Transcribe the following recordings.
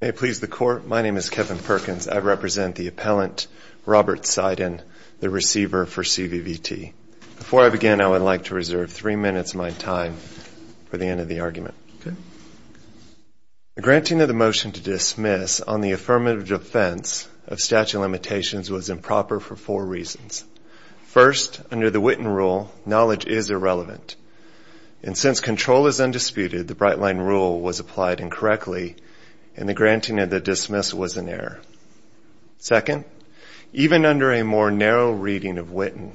May it please the Court, my name is Kevin Perkins. I represent the appellant Robert Seiden, the receiver for CVVT. Before I begin, I would like to reserve three minutes of my time for the end of the argument. The granting of the motion to dismiss on the affirmative defense of statute of limitations was improper for four reasons. First, under the Witten rule, knowledge is irrelevant, and since control is undisputed, the Brightline rule was applied incorrectly, and the granting of the dismiss was an error. Second, even under a more narrow reading of Witten,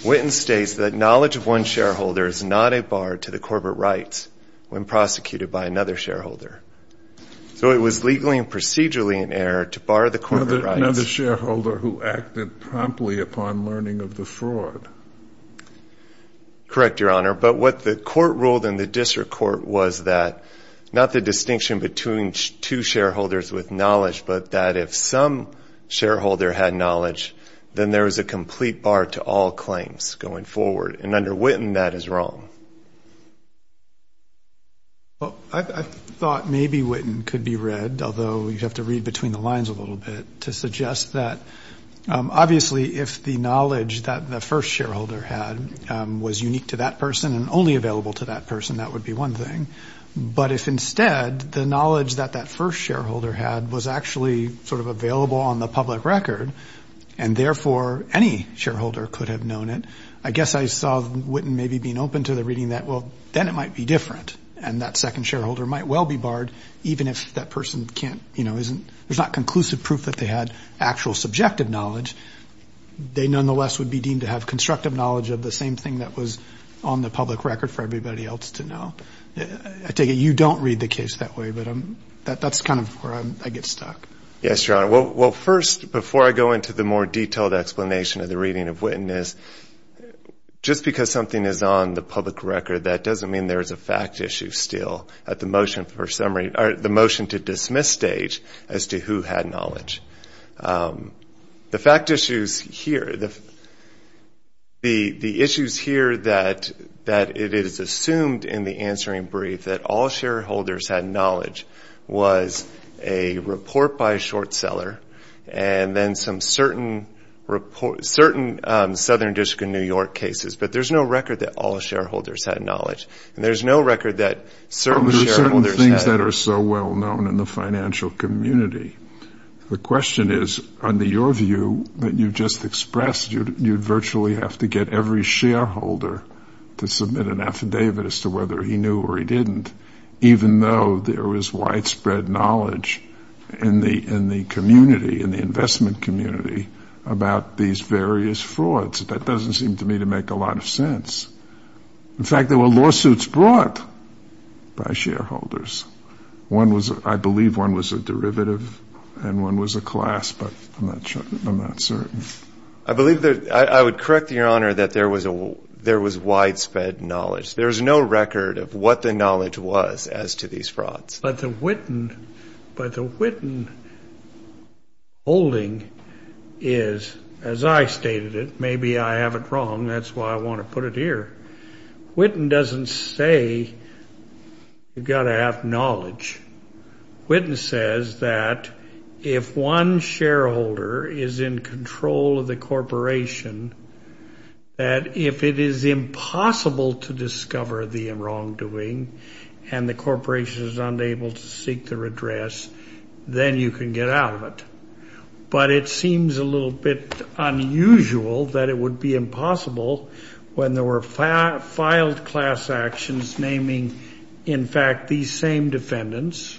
Witten states that knowledge of one shareholder is not a bar to the corporate rights when prosecuted by another shareholder. So it was legally and procedurally an error to bar the corporate rights. Another shareholder who acted promptly upon learning of the fraud. Correct, Your Honor, but what the court ruled in the district court was that not the distinction between two shareholders with knowledge, but that if some shareholder had knowledge, then there is a complete bar to all claims going forward. And under Witten, that is wrong. I thought maybe Witten could be read, although you have to read between the lines a little bit, to suggest that obviously if the knowledge that the first shareholder had was unique to that person and only available to that person, that would be one thing. But if instead the knowledge that that first shareholder had was actually sort of available on the public record, and therefore any shareholder could have known it, I guess I saw Witten maybe being open to the reading that, well, then it might be different, and that second shareholder might well be barred, even if that person can't, you know, isn't, there's not conclusive proof that they had actual subjective knowledge, they nonetheless would be deemed to have constructive knowledge of the same thing that was on the public record for everybody else to know. I take it you don't read the case that way, but that's kind of where I get stuck. Yes, Your Honor. Well, first, before I go into the more detailed explanation of the reading of Witten, just because something is on the public record, that doesn't mean there is a fact issue still at the motion for summary, or the motion to dismiss stage as to who had knowledge was a report by a short seller, and then some certain Southern District of New York cases, but there's no record that all shareholders had knowledge, and there's no record that certain shareholders had. Well, there's certain things that are so well known in the financial community. The question is, under your view that you've just expressed, you'd virtually have to get every shareholder to submit an affidavit as to whether he knew or he didn't, even though there was widespread knowledge in the community, in the investment community, about these various frauds. That doesn't seem to me to make a lot of sense. In fact, there were lawsuits brought by shareholders. One was, I believe one was a derivative, and one was a class, but I'm not sure, I'm not certain. I believe that, I would correct Your Honor that there was widespread knowledge. There's no record of what the knowledge was as to these frauds. But the Witten, but the Witten holding is, as I stated it, maybe I have it wrong, that's why I want to put it here. Witten doesn't say you've got to have the whole of the corporation, that if it is impossible to discover the wrongdoing, and the corporation is unable to seek their address, then you can get out of it. But it seems a little bit unusual that it would be impossible when there were filed class actions naming, in fact, these same defendants.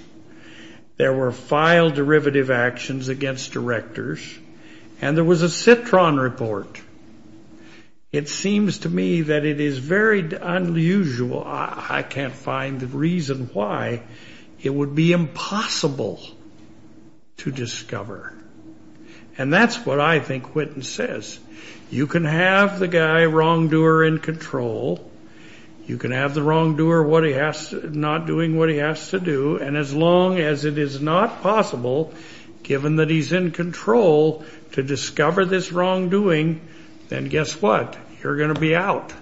There were filed derivative actions against directors, and there was a Citron report. It seems to me that it is very unusual, I can't find the reason why, it would be impossible to discover. And that's what I think Witten says. You can have the guy wrongdoer in control, you can have the wrongdoer not doing what he has to do, and as long as it is not possible, given that he's in control, to discover this wrongdoing, then guess what, you're going to be out.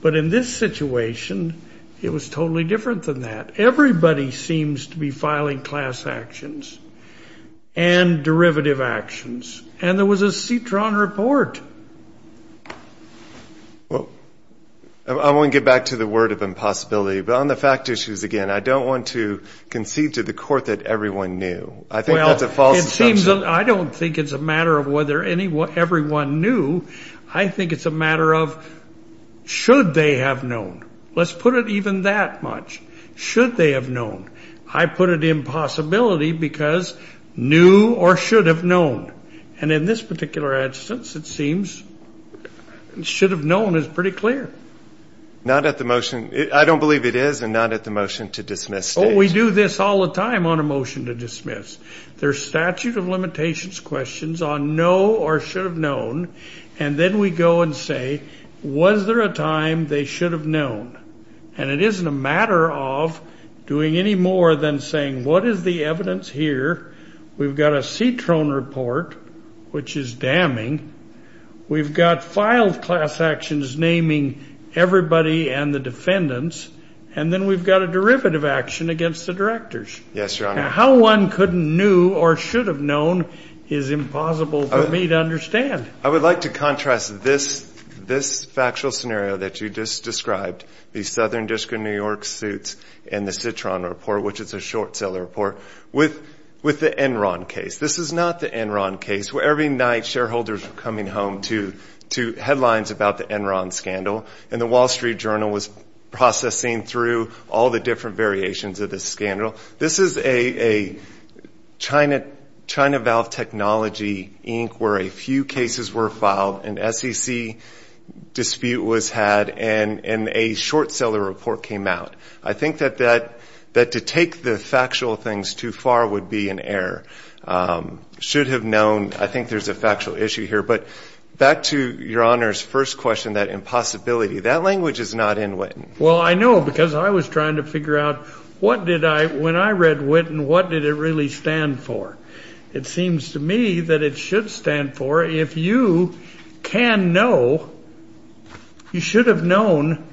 But in this situation, it was totally different than that. Everybody seems to be filing class actions, and derivative actions, and there was a Citron report. Well, I want to get back to the word of impossibility, but on the fact issues again, I don't want to concede to the court that everyone knew. Well, I don't think it's a matter of whether everyone knew, I think it's a matter of should they have known. Let's put it even that much, should they have known. I put it in possibility because knew or should have known. And in this particular instance, it seems should have known is pretty clear. Not at the motion, I don't believe it is, and not at the motion to dismiss stage. There's statute of limitations questions on know or should have known, and then we go and say, was there a time they should have known? And it isn't a matter of doing any more than saying, what is the evidence here? We've got a Citron report, which is damning. We've got filed class actions naming everybody and the defendants, and then we've got a derivative action against the directors. How one couldn't knew or should have known is impossible for me to understand. I would like to contrast this factual scenario that you just described, the Southern District of New York suits and the Citron report, which is a short seller report with the Enron case. This is not the Enron case where every night shareholders are coming home to headlines about the Enron scandal, and the Wall Street Journal was processing through all the different variations of the scandal. This is a China Valve Technology Inc. where a few cases were filed, an SEC dispute was had, and a short seller report came out. I think that to take the factual things too far would be an error. Should have known, I think there's a factual issue here. But back to your Honor's first question, that impossibility, that language is not in Witten. Well, I know, because I was trying to figure out what did I, when I read Witten, what did it really stand for? It seems to me that it should stand for if you can know, you should have known,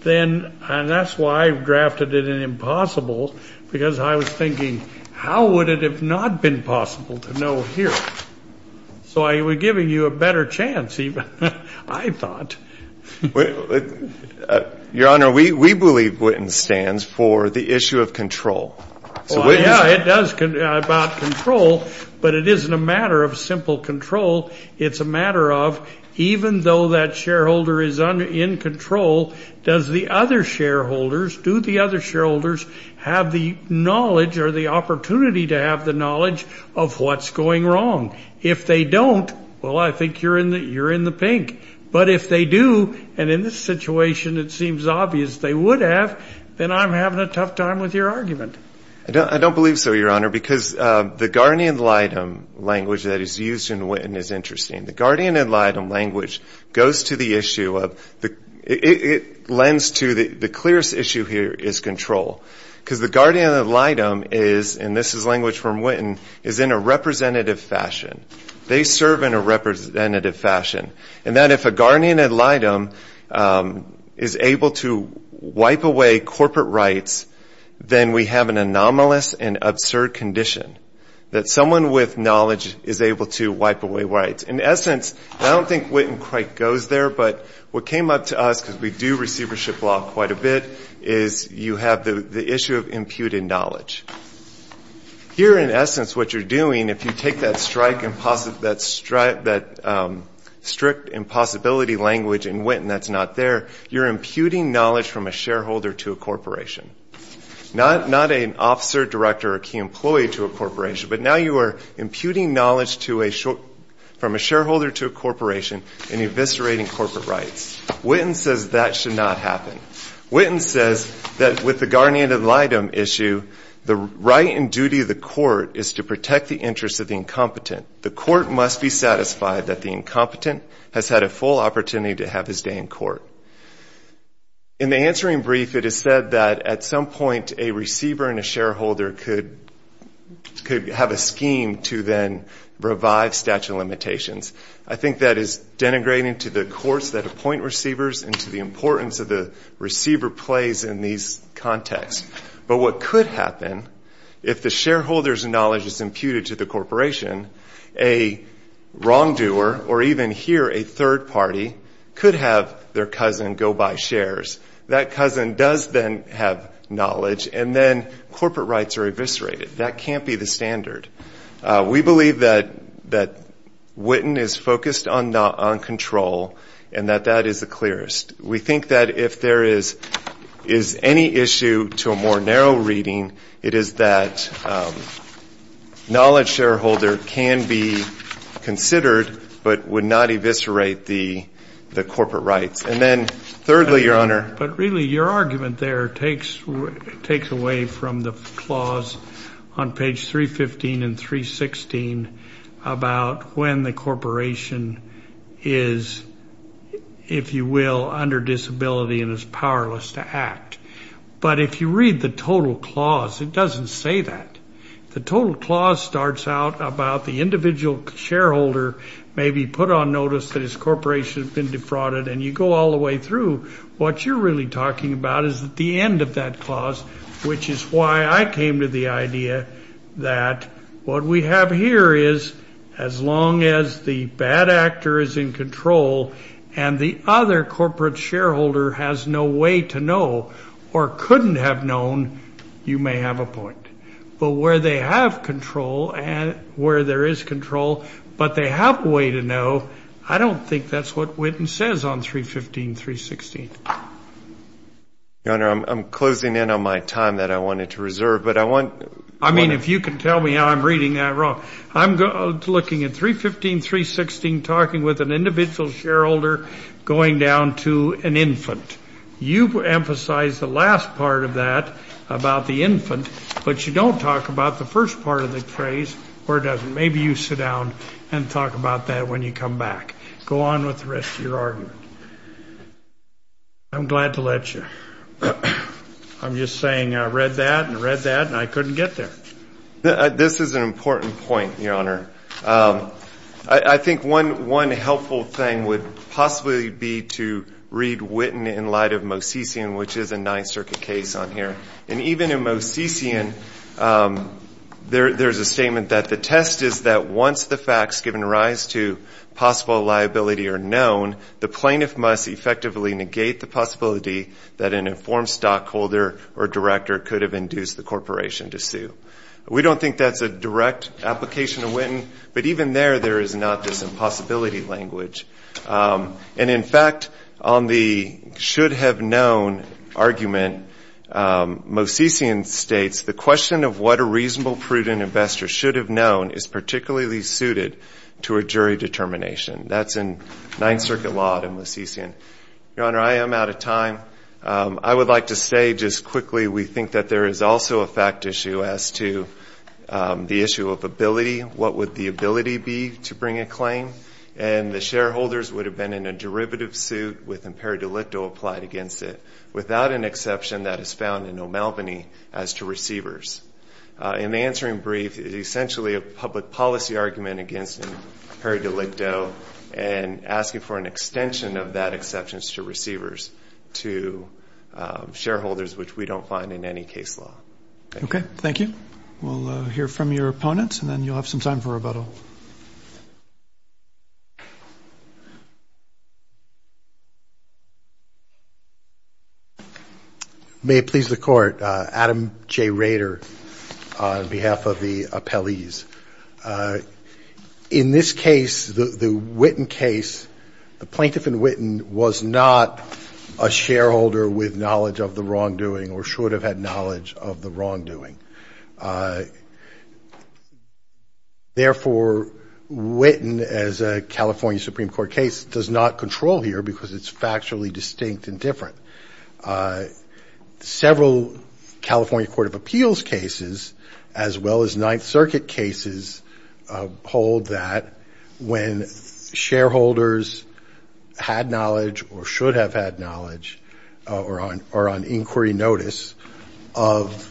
then, and that's why I drafted it an impossible, because I was thinking, how would it have not been possible to know here? So I was giving you a better chance, even, I thought. Your Honor, we believe Witten stands for the issue of control. Yeah, it does, about control, but it isn't a matter of simple control, it's a matter of even though that shareholder is in control, does the other shareholders, do the other shareholders have the knowledge or the opportunity to have the knowledge of what's going wrong? If they don't, well, I think you're in the pink. But if they do, and in this situation it seems obvious they would have, then I'm having a tough time with your argument. I don't believe so, Your Honor, because the guardian ad litem language that is used in Witten is interesting. The guardian ad litem language goes to the issue of, it lends to, the clearest issue here is control, because the guardian ad litem is, and this is language from Witten, is in a representative fashion. They serve in a representative fashion, and that if a guardian ad litem is able to wipe away corporate rights, then we have an anomalous and absurd condition, that someone with knowledge is able to wipe away rights. In essence, I don't think Witten quite goes there, but what came up to us, because we do receivership law quite a bit, is you have the issue of imputing knowledge. Here, in essence, what you're doing, if you take that strict impossibility language in Witten that's not there, you're imputing knowledge from a shareholder to a corporation. Not an officer, director, or key employee to a corporation, but now you are imputing knowledge from a shareholder to a corporation and eviscerating corporate rights. Witten says that should not happen. Witten says that with the guardian ad litem issue, the right and duty of the court is to protect the interests of the incompetent. The court must be satisfied that the incompetent has had a full opportunity to have his day in court. In the answering brief, it is said that at some point a receiver and a shareholder could have a scheme to then revive statute of limitations. I think that is denigrating to the courts that appoint receivers and to the importance of the receiver plays in these contexts. But what could happen, if the shareholder's knowledge is imputed to the corporation, a wrongdoer, or even here a third party, could have their cousin go buy shares. That cousin does then have knowledge, and then corporate rights are eviscerated. That can't be the standard. We believe that Witten is focused on control, and that that is the clearest. We think that if there is any issue to a more narrow reading, it is that knowledge shareholder can be considered, but would not eviscerate the corporate rights. And then thirdly, Your Honor. But really, your argument there takes away from the clause on page 315 and 316 about when the corporation is, if you will, under disability and is powerless to act. But if you read the total clause, it doesn't say that. The total clause starts out about the individual shareholder may be put on notice that his corporation has been defrauded, and you go all the way through. What you're really talking about is the end of that clause, which is why I came to the idea that what we have here is as long as the bad actor is in control, and the other corporate shareholder has no way to know or couldn't have known, you may have a point. But where they have control and where there is control, but they have a way to know, I don't think that's what Witten says on 315, 316. Your Honor, I'm closing in on my time that I wanted to reserve, but I want to. I mean, if you can tell me how I'm reading that wrong. I'm looking at 315, 316, talking with an individual shareholder going down to an infant. You've emphasized the last part of that about the infant, but you don't talk about the first part of the phrase or doesn't. Maybe you sit down and talk about that when you come back. Go on with the rest of your argument. I'm glad to let you. I'm just saying I read that and read that, and I couldn't get there. This is an important point, Your Honor. I think one helpful thing would possibly be to read Witten in light of Mosesian, which is a Ninth Circuit case on here. And even in Mosesian, there's a statement that the test is that once the facts given rise to possible liability are known, that an informed stockholder or director could have induced the corporation to sue. We don't think that's a direct application of Witten, but even there, there is not this impossibility language. And in fact, on the should-have-known argument, Mosesian states, the question of what a reasonable, prudent investor should have known is particularly suited to a jury determination. That's in Ninth Circuit law in Mosesian. Your Honor, I am out of time. I would like to say just quickly we think that there is also a fact issue as to the issue of ability. What would the ability be to bring a claim? And the shareholders would have been in a derivative suit with imperio delicto applied against it, without an exception that is found in O'Malveny as to receivers. And the answering brief is essentially a public policy argument against imperio delicto and asking for an extension of that exception to receivers, to shareholders, which we don't find in any case law. Okay. Thank you. We'll hear from your opponents, and then you'll have some time for rebuttal. May it please the Court, Adam J. Rader on behalf of the appellees. In this case, the Witten case, the plaintiff in Witten was not a shareholder with knowledge of the wrongdoing, or should have had knowledge of the wrongdoing. Therefore, Witten as a California Supreme Court case does not control here because it's factually distinct and different. Several California Court of Appeals cases, as well as Ninth Circuit cases, hold that when shareholders had knowledge or should have had knowledge, or on inquiry notice, of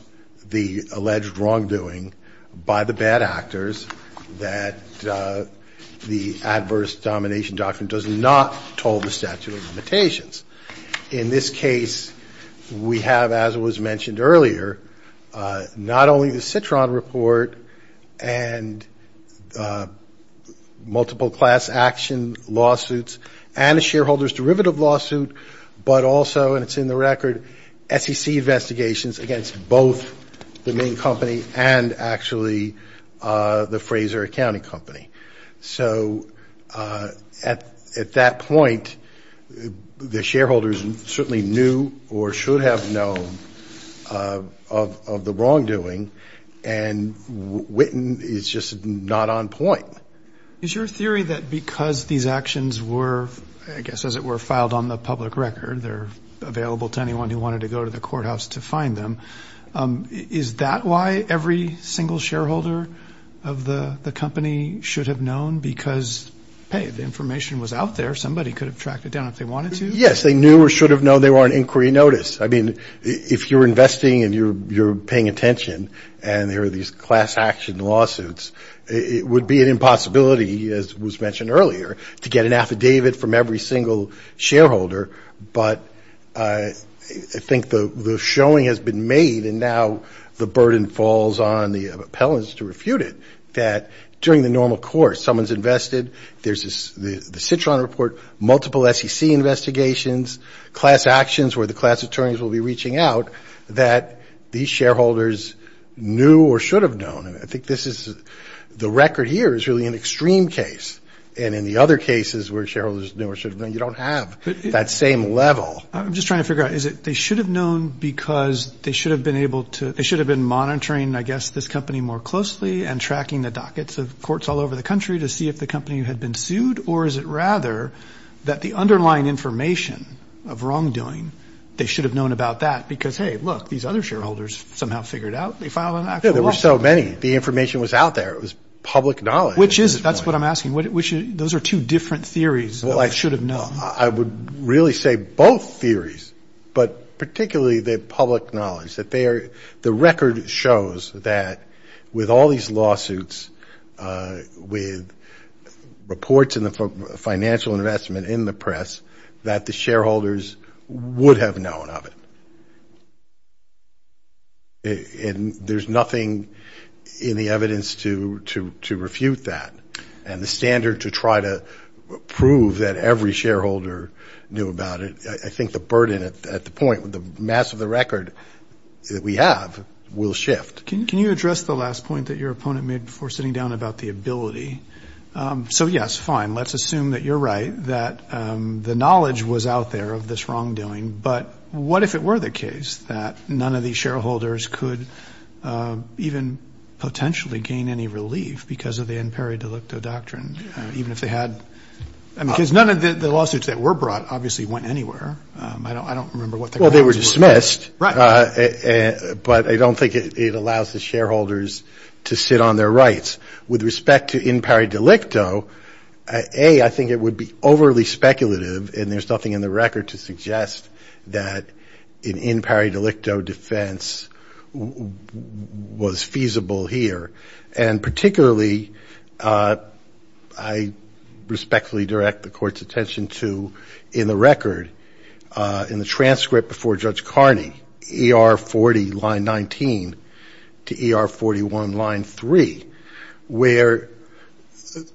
the alleged wrongdoing by the bad actors, that the adverse domination doctrine does not toll the statute of limitations. In this case, we have, as was mentioned earlier, not only the Citron report and multiple class action lawsuits, and a shareholders derivative lawsuit, but also, and it's in the record, SEC investigations against both the main company and actually the Fraser Accounting Company. So at that point, the shareholders certainly knew or should have known of the wrongdoing, and Witten is just not on point. Is your theory that because these actions were, I guess as it were, filed on the public record, they're available to anyone who wanted to go to the courthouse to find them, is that why every single shareholder of the company should have known of the wrongdoing? They should have known because, hey, the information was out there, somebody could have tracked it down if they wanted to? Yes, they knew or should have known they were on inquiry notice. I mean, if you're investing and you're paying attention, and there are these class action lawsuits, it would be an impossibility, as was mentioned earlier, to get an affidavit from every single shareholder. But I think the showing has been made, and now the burden falls on the appellants to refute it, that during the normal course of an investigation, there's a lot of evidence. Of course, someone's invested, there's the Citron report, multiple SEC investigations, class actions where the class attorneys will be reaching out, that these shareholders knew or should have known. I think this is, the record here is really an extreme case, and in the other cases where shareholders knew or should have known, you don't have that same level. I'm just trying to figure out, is it they should have known because they should have been able to, they should have been monitoring, I guess, this company more closely and tracking the dockets of courts all over the country? To see if the company had been sued? Or is it rather that the underlying information of wrongdoing, they should have known about that? Because, hey, look, these other shareholders somehow figured out, they filed an actual lawsuit. There were so many. The information was out there, it was public knowledge. Which is, that's what I'm asking, those are two different theories of should have known. I would really say both theories, but particularly the public knowledge. The record shows that with all these lawsuits, with reports in the financial investment in the press, that the shareholders would have known of it. And there's nothing in the evidence to refute that. And the standard to try to prove that every shareholder knew about it, I think the burden at the point, with the mass of the record, I don't think it's going to work. I think the burden that we have will shift. Can you address the last point that your opponent made before sitting down about the ability? So, yes, fine, let's assume that you're right, that the knowledge was out there of this wrongdoing. But what if it were the case that none of these shareholders could even potentially gain any relief because of the in peri delicto doctrine, even if they had? Because none of the lawsuits that were brought obviously went anywhere. I don't remember what the grounds were for that. Well, they were dismissed. Right. But I don't think it allows the shareholders to sit on their rights. With respect to in peri delicto, A, I think it would be overly speculative, and there's nothing in the record to suggest that an in peri delicto defense was feasible here. And particularly, I respectfully direct the Court's attention to in the record, in the transcript before Judge Carney, ER 40, line 19, to ER 41, line 3, where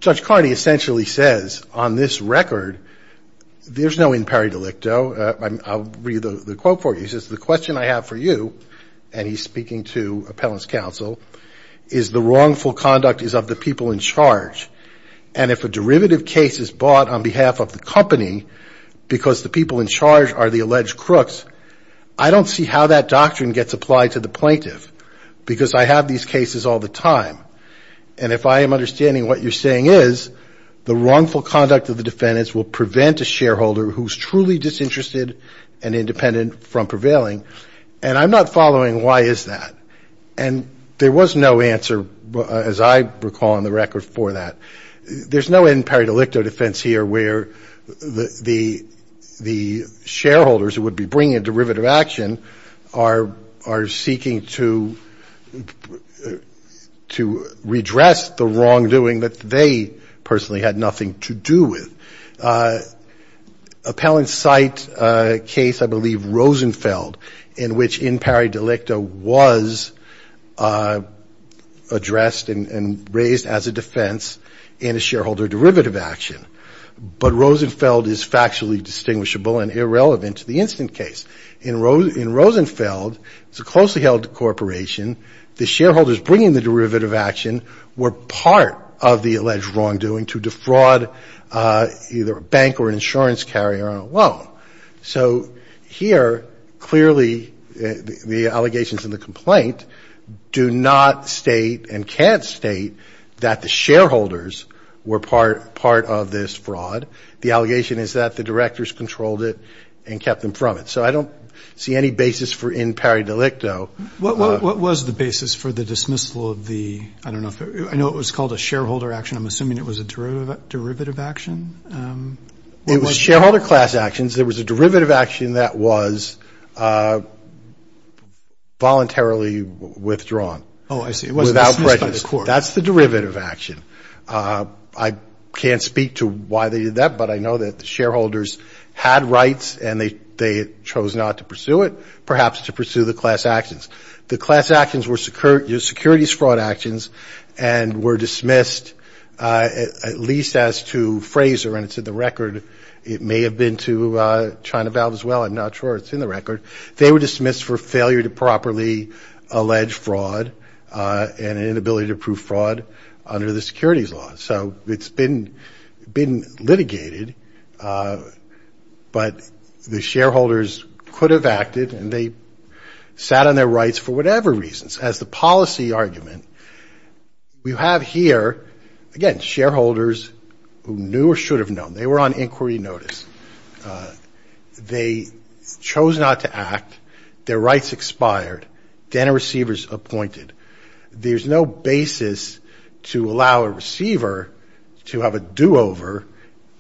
Judge Carney essentially says, on this record, there's no in peri delicto. I'll read the quote for you. He says, the question I have for you, and he's speaking to appellant's counsel, is the wrongful conduct is of the people in charge. And if a derivative case is bought on behalf of the company because the people in charge are the alleged crooks, I don't see how that doctrine gets applied to the plaintiff, because I have these cases all the time. And if I am understanding what you're saying is, the wrongful conduct of the defendants will prevent a shareholder who's truly disinterested and independent from provision. I'm not following why is that? And there was no answer, as I recall in the record, for that. There's no in peri delicto defense here where the shareholders who would be bringing a derivative action are seeking to redress the wrongdoing that they personally had nothing to do with. Now, there was an appellant's site case, I believe, Rosenfeld, in which in peri delicto was addressed and raised as a defense in a shareholder derivative action. But Rosenfeld is factually distinguishable and irrelevant to the instant case. In Rosenfeld, it's a closely held corporation. The shareholders bringing the derivative action were part of the alleged wrongdoing to defraud either a bank or a company. The bank or an insurance carrier on a loan. So here, clearly, the allegations in the complaint do not state and can't state that the shareholders were part of this fraud. The allegation is that the directors controlled it and kept them from it. So I don't see any basis for in peri delicto. What was the basis for the dismissal of the, I don't know, I know it was called a shareholder action. I'm assuming it was a derivative action. It was shareholder class actions. There was a derivative action that was voluntarily withdrawn. Oh, I see. Without prejudice. That's the derivative action. I can't speak to why they did that, but I know that the shareholders had rights and they chose not to pursue it, perhaps to pursue the class actions. The class actions were securities fraud actions and were dismissed, at least as to Fraser, and it's in the record. It may have been to China Valve as well. I'm not sure. It's in the record. They were dismissed for failure to properly allege fraud and inability to prove fraud under the securities law. So it's been litigated. But the shareholders could have acted and they sat on their rights for whatever reasons. As the policy argument, we have here, again, shareholders who knew or should have known. They were on inquiry notice. They chose not to act. Their rights expired. Then a receiver's appointed. There's no basis to allow a receiver to have a do-over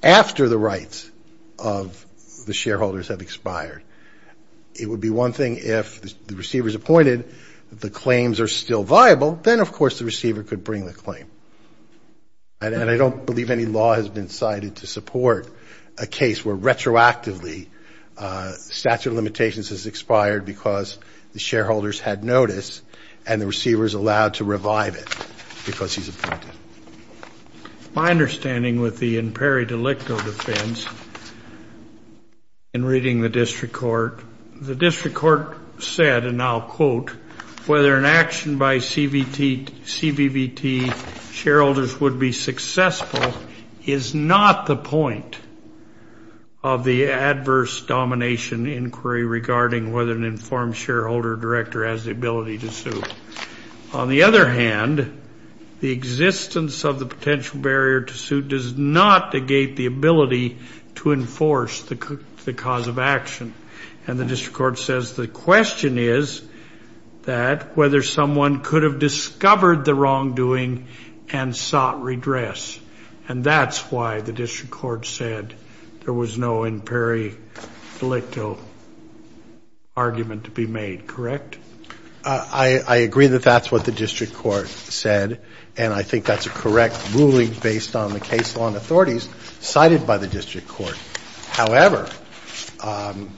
after the rights of the shareholders have expired. It would be one thing if the receiver's appointed, the claims are still viable. Then, of course, the receiver could bring the claim. And I don't believe any law has been cited to support a case where retroactively statute of limitations has expired because the shareholder's rights have expired. And the receiver's allowed to revive it because he's appointed. My understanding with the imperi delicto defense in reading the district court, the district court said, and I'll quote, whether an action by CBVT shareholders would be successful is not the point of the adverse domination inquiry regarding whether an informed shareholder or director of CBVT would be successful. And the district court said, if an informed shareholder or director has the ability to sue, on the other hand, the existence of the potential barrier to sue does not negate the ability to enforce the cause of action. And the district court says the question is that whether someone could have discovered the wrongdoing and sought redress. And that's why the district court said there was no imperi delicto argument to be made, correct? I agree that that's what the district court said. And I think that's a correct ruling based on the case law and authorities cited by the district court. However, on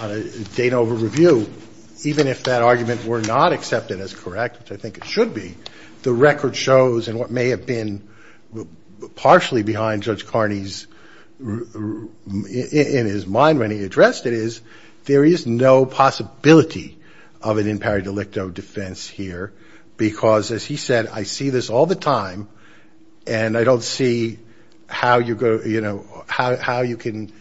a date over review, even if that argument were not accepted as correct, which I think it should be, the record shows, and what may have been partially behind Judge Carney's, in his mind when he addressed it, is there is no possibility of an imperi delicto case. There is no possibility of an imperi delicto defense here, because, as he said, I see this all the time, and I don't see how you go, you know, how you can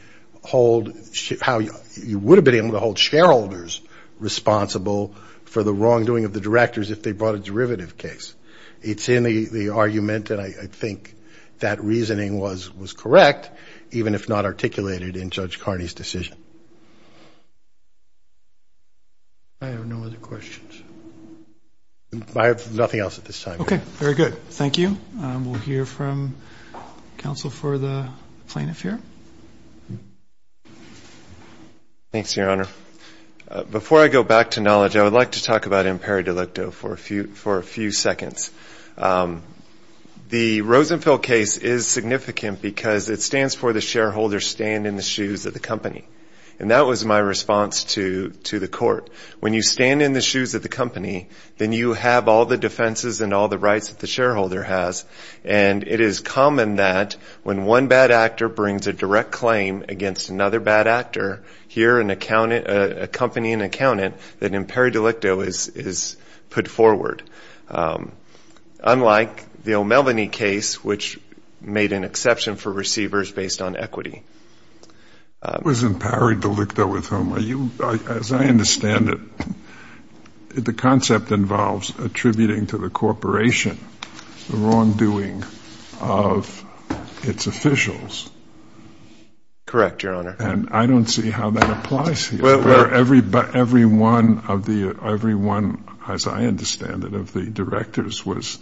hold, how you would have been able to hold shareholders responsible for the wrongdoing of the directors if they brought a derivative case. It's in the argument, and I think that reasoning was correct, even if not articulated in Judge Carney's decision. Any other questions? I have nothing else at this time. Okay. Very good. Thank you. We'll hear from counsel for the plaintiff here. Thanks, Your Honor. Before I go back to knowledge, I would like to talk about imperi delicto for a few seconds. The Rosenfeld case is significant because it stands for the shareholders stand in the shoes of the company, and that was my response to the court. When you stand in the shoes of the company, then you have all the defenses and all the rights that the shareholder has. And it is common that when one bad actor brings a direct claim against another bad actor, here a company, an accountant, an imperi delicto is put forward, unlike the O'Melveny case, which made an exception for receivers based on equity. It was an imperi delicto with whom, as I understand it, the concept involves attributing to the corporation the wrongdoing of its officials. Correct, Your Honor. And I don't see how that applies here, where every one, as I understand it, of the directors was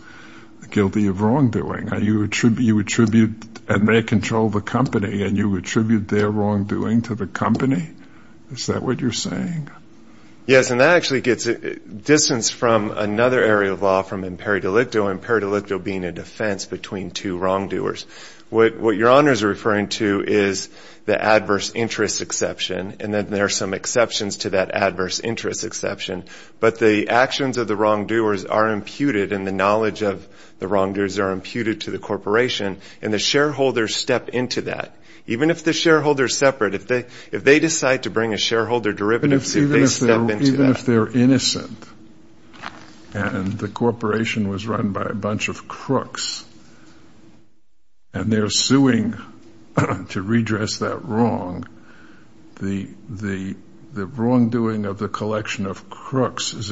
guilty of wrongdoing. You attribute, and they control the company, and you attribute their wrongdoing to the company? Is that what you're saying? Yes, and that actually gets distance from another area of law from imperi delicto, imperi delicto being a defense between two wrongdoers. What Your Honor is referring to is the adverse interest exception, and then there are some exceptions to that adverse interest exception. But the actions of the wrongdoers are imputed, and the knowledge of the wrongdoers are imputed to the corporation, and the shareholders step into that. Even if the shareholder is separate, if they decide to bring a shareholder derivative, they step into that. But even if they're innocent, and the corporation was run by a bunch of crooks, and they're suing to redress that wrong, the wrongdoing of the collection of crooks is still there. The wrongdoing of the collection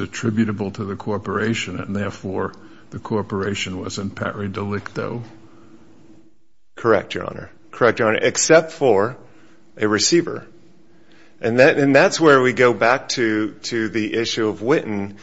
of crooks is attributable to the corporation, and therefore the corporation was imperi delicto. Correct, Your Honor, correct, Your Honor, except for a receiver. And that's where we go back to the issue of Whitten.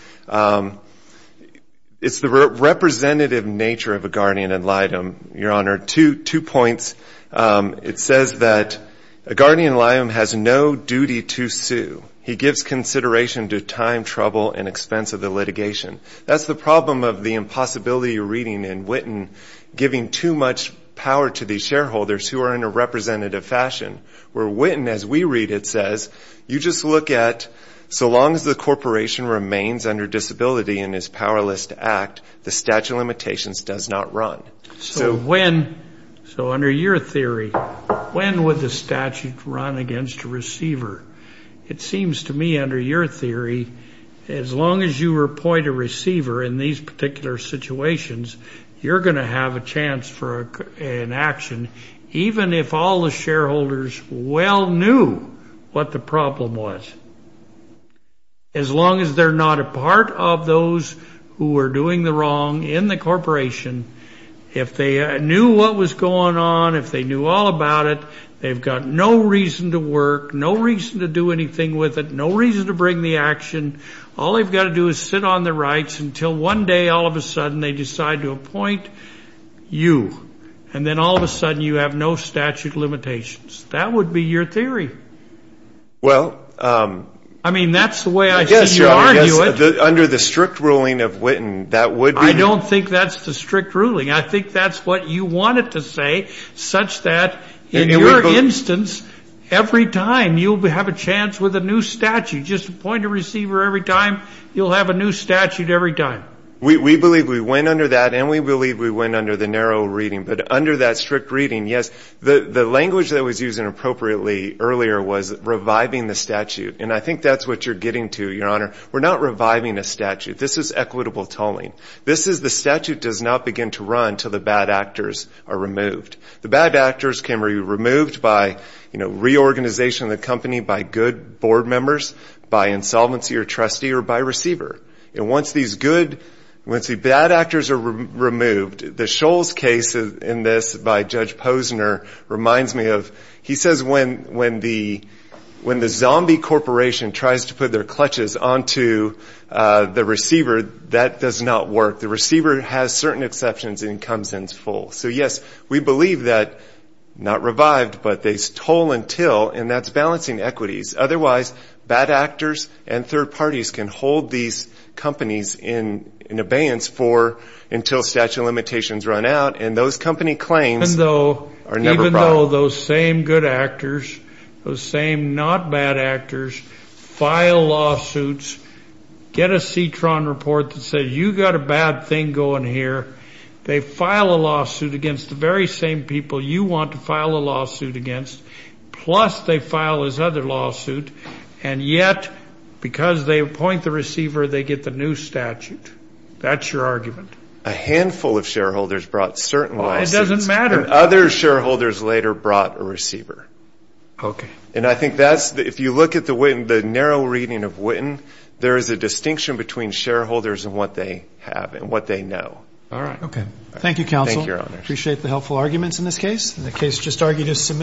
It's the representative nature of a guardian ad litem, Your Honor. Two points. It says that a guardian ad litem has no duty to sue. He gives consideration to time, trouble, and expense of the litigation. That's the problem of the impossibility of reading in Whitten, giving too much power to the shareholders who are in a representative fashion. Where Whitten, as we read it, says, you just look at, so long as the corporation remains under disability in its powerless act, the statute of limitations does not run. So when, so under your theory, when would the statute run against a receiver? It seems to me under your theory, as long as you appoint a receiver in these particular situations, you're going to have a chance for an action, even if all the shareholders well knew what the problem was. As long as they're not a part of those who are doing the wrong in the corporation. If they knew what was going on, if they knew all about it, they've got no reason to work, no reason to do anything with it, no reason to bring the action. All they've got to do is sit on their rights until one day all of a sudden they decide to appoint you. And then all of a sudden you have no statute of limitations. That would be your theory. I mean, that's the way I see you argue it. I don't think that's the strict ruling. I think that's what you wanted to say, such that in your instance, every time you have a chance with a new statute, just appoint a receiver every time, you'll have a new statute every time. We believe we went under that, and we believe we went under the narrow reading. But under that strict reading, yes, the language that was used inappropriately earlier was reviving the statute. And I think that's what you're getting to, Your Honor. We're not reviving a statute. This is equitable tolling. This is the statute does not begin to run until the bad actors are removed. The bad actors can be removed by reorganization of the company by good board members, by insolvency or trustee, or by receiver. And once these good, once the bad actors are removed, the Shoals case in this by Judge Posner reminds me of, he says when the zombie corporation tries to put their clutches onto the receiver, that does not work. The receiver has certain exceptions and comes in full. So, yes, we believe that, not revived, but they toll until, and that's balancing equities. Otherwise, bad actors and third parties can hold these companies in abeyance for until statute of limitations run out, and those company claims are never brought. Even though those same good actors, those same not bad actors file lawsuits, get a CTRON report that says you got a bad thing going here. They file a lawsuit against the very same people you want to file a lawsuit against. Plus, they file this other lawsuit, and yet, because they appoint the receiver, they get the new statute. That's your argument. A handful of shareholders brought certain lawsuits. It doesn't matter. Other shareholders later brought a receiver.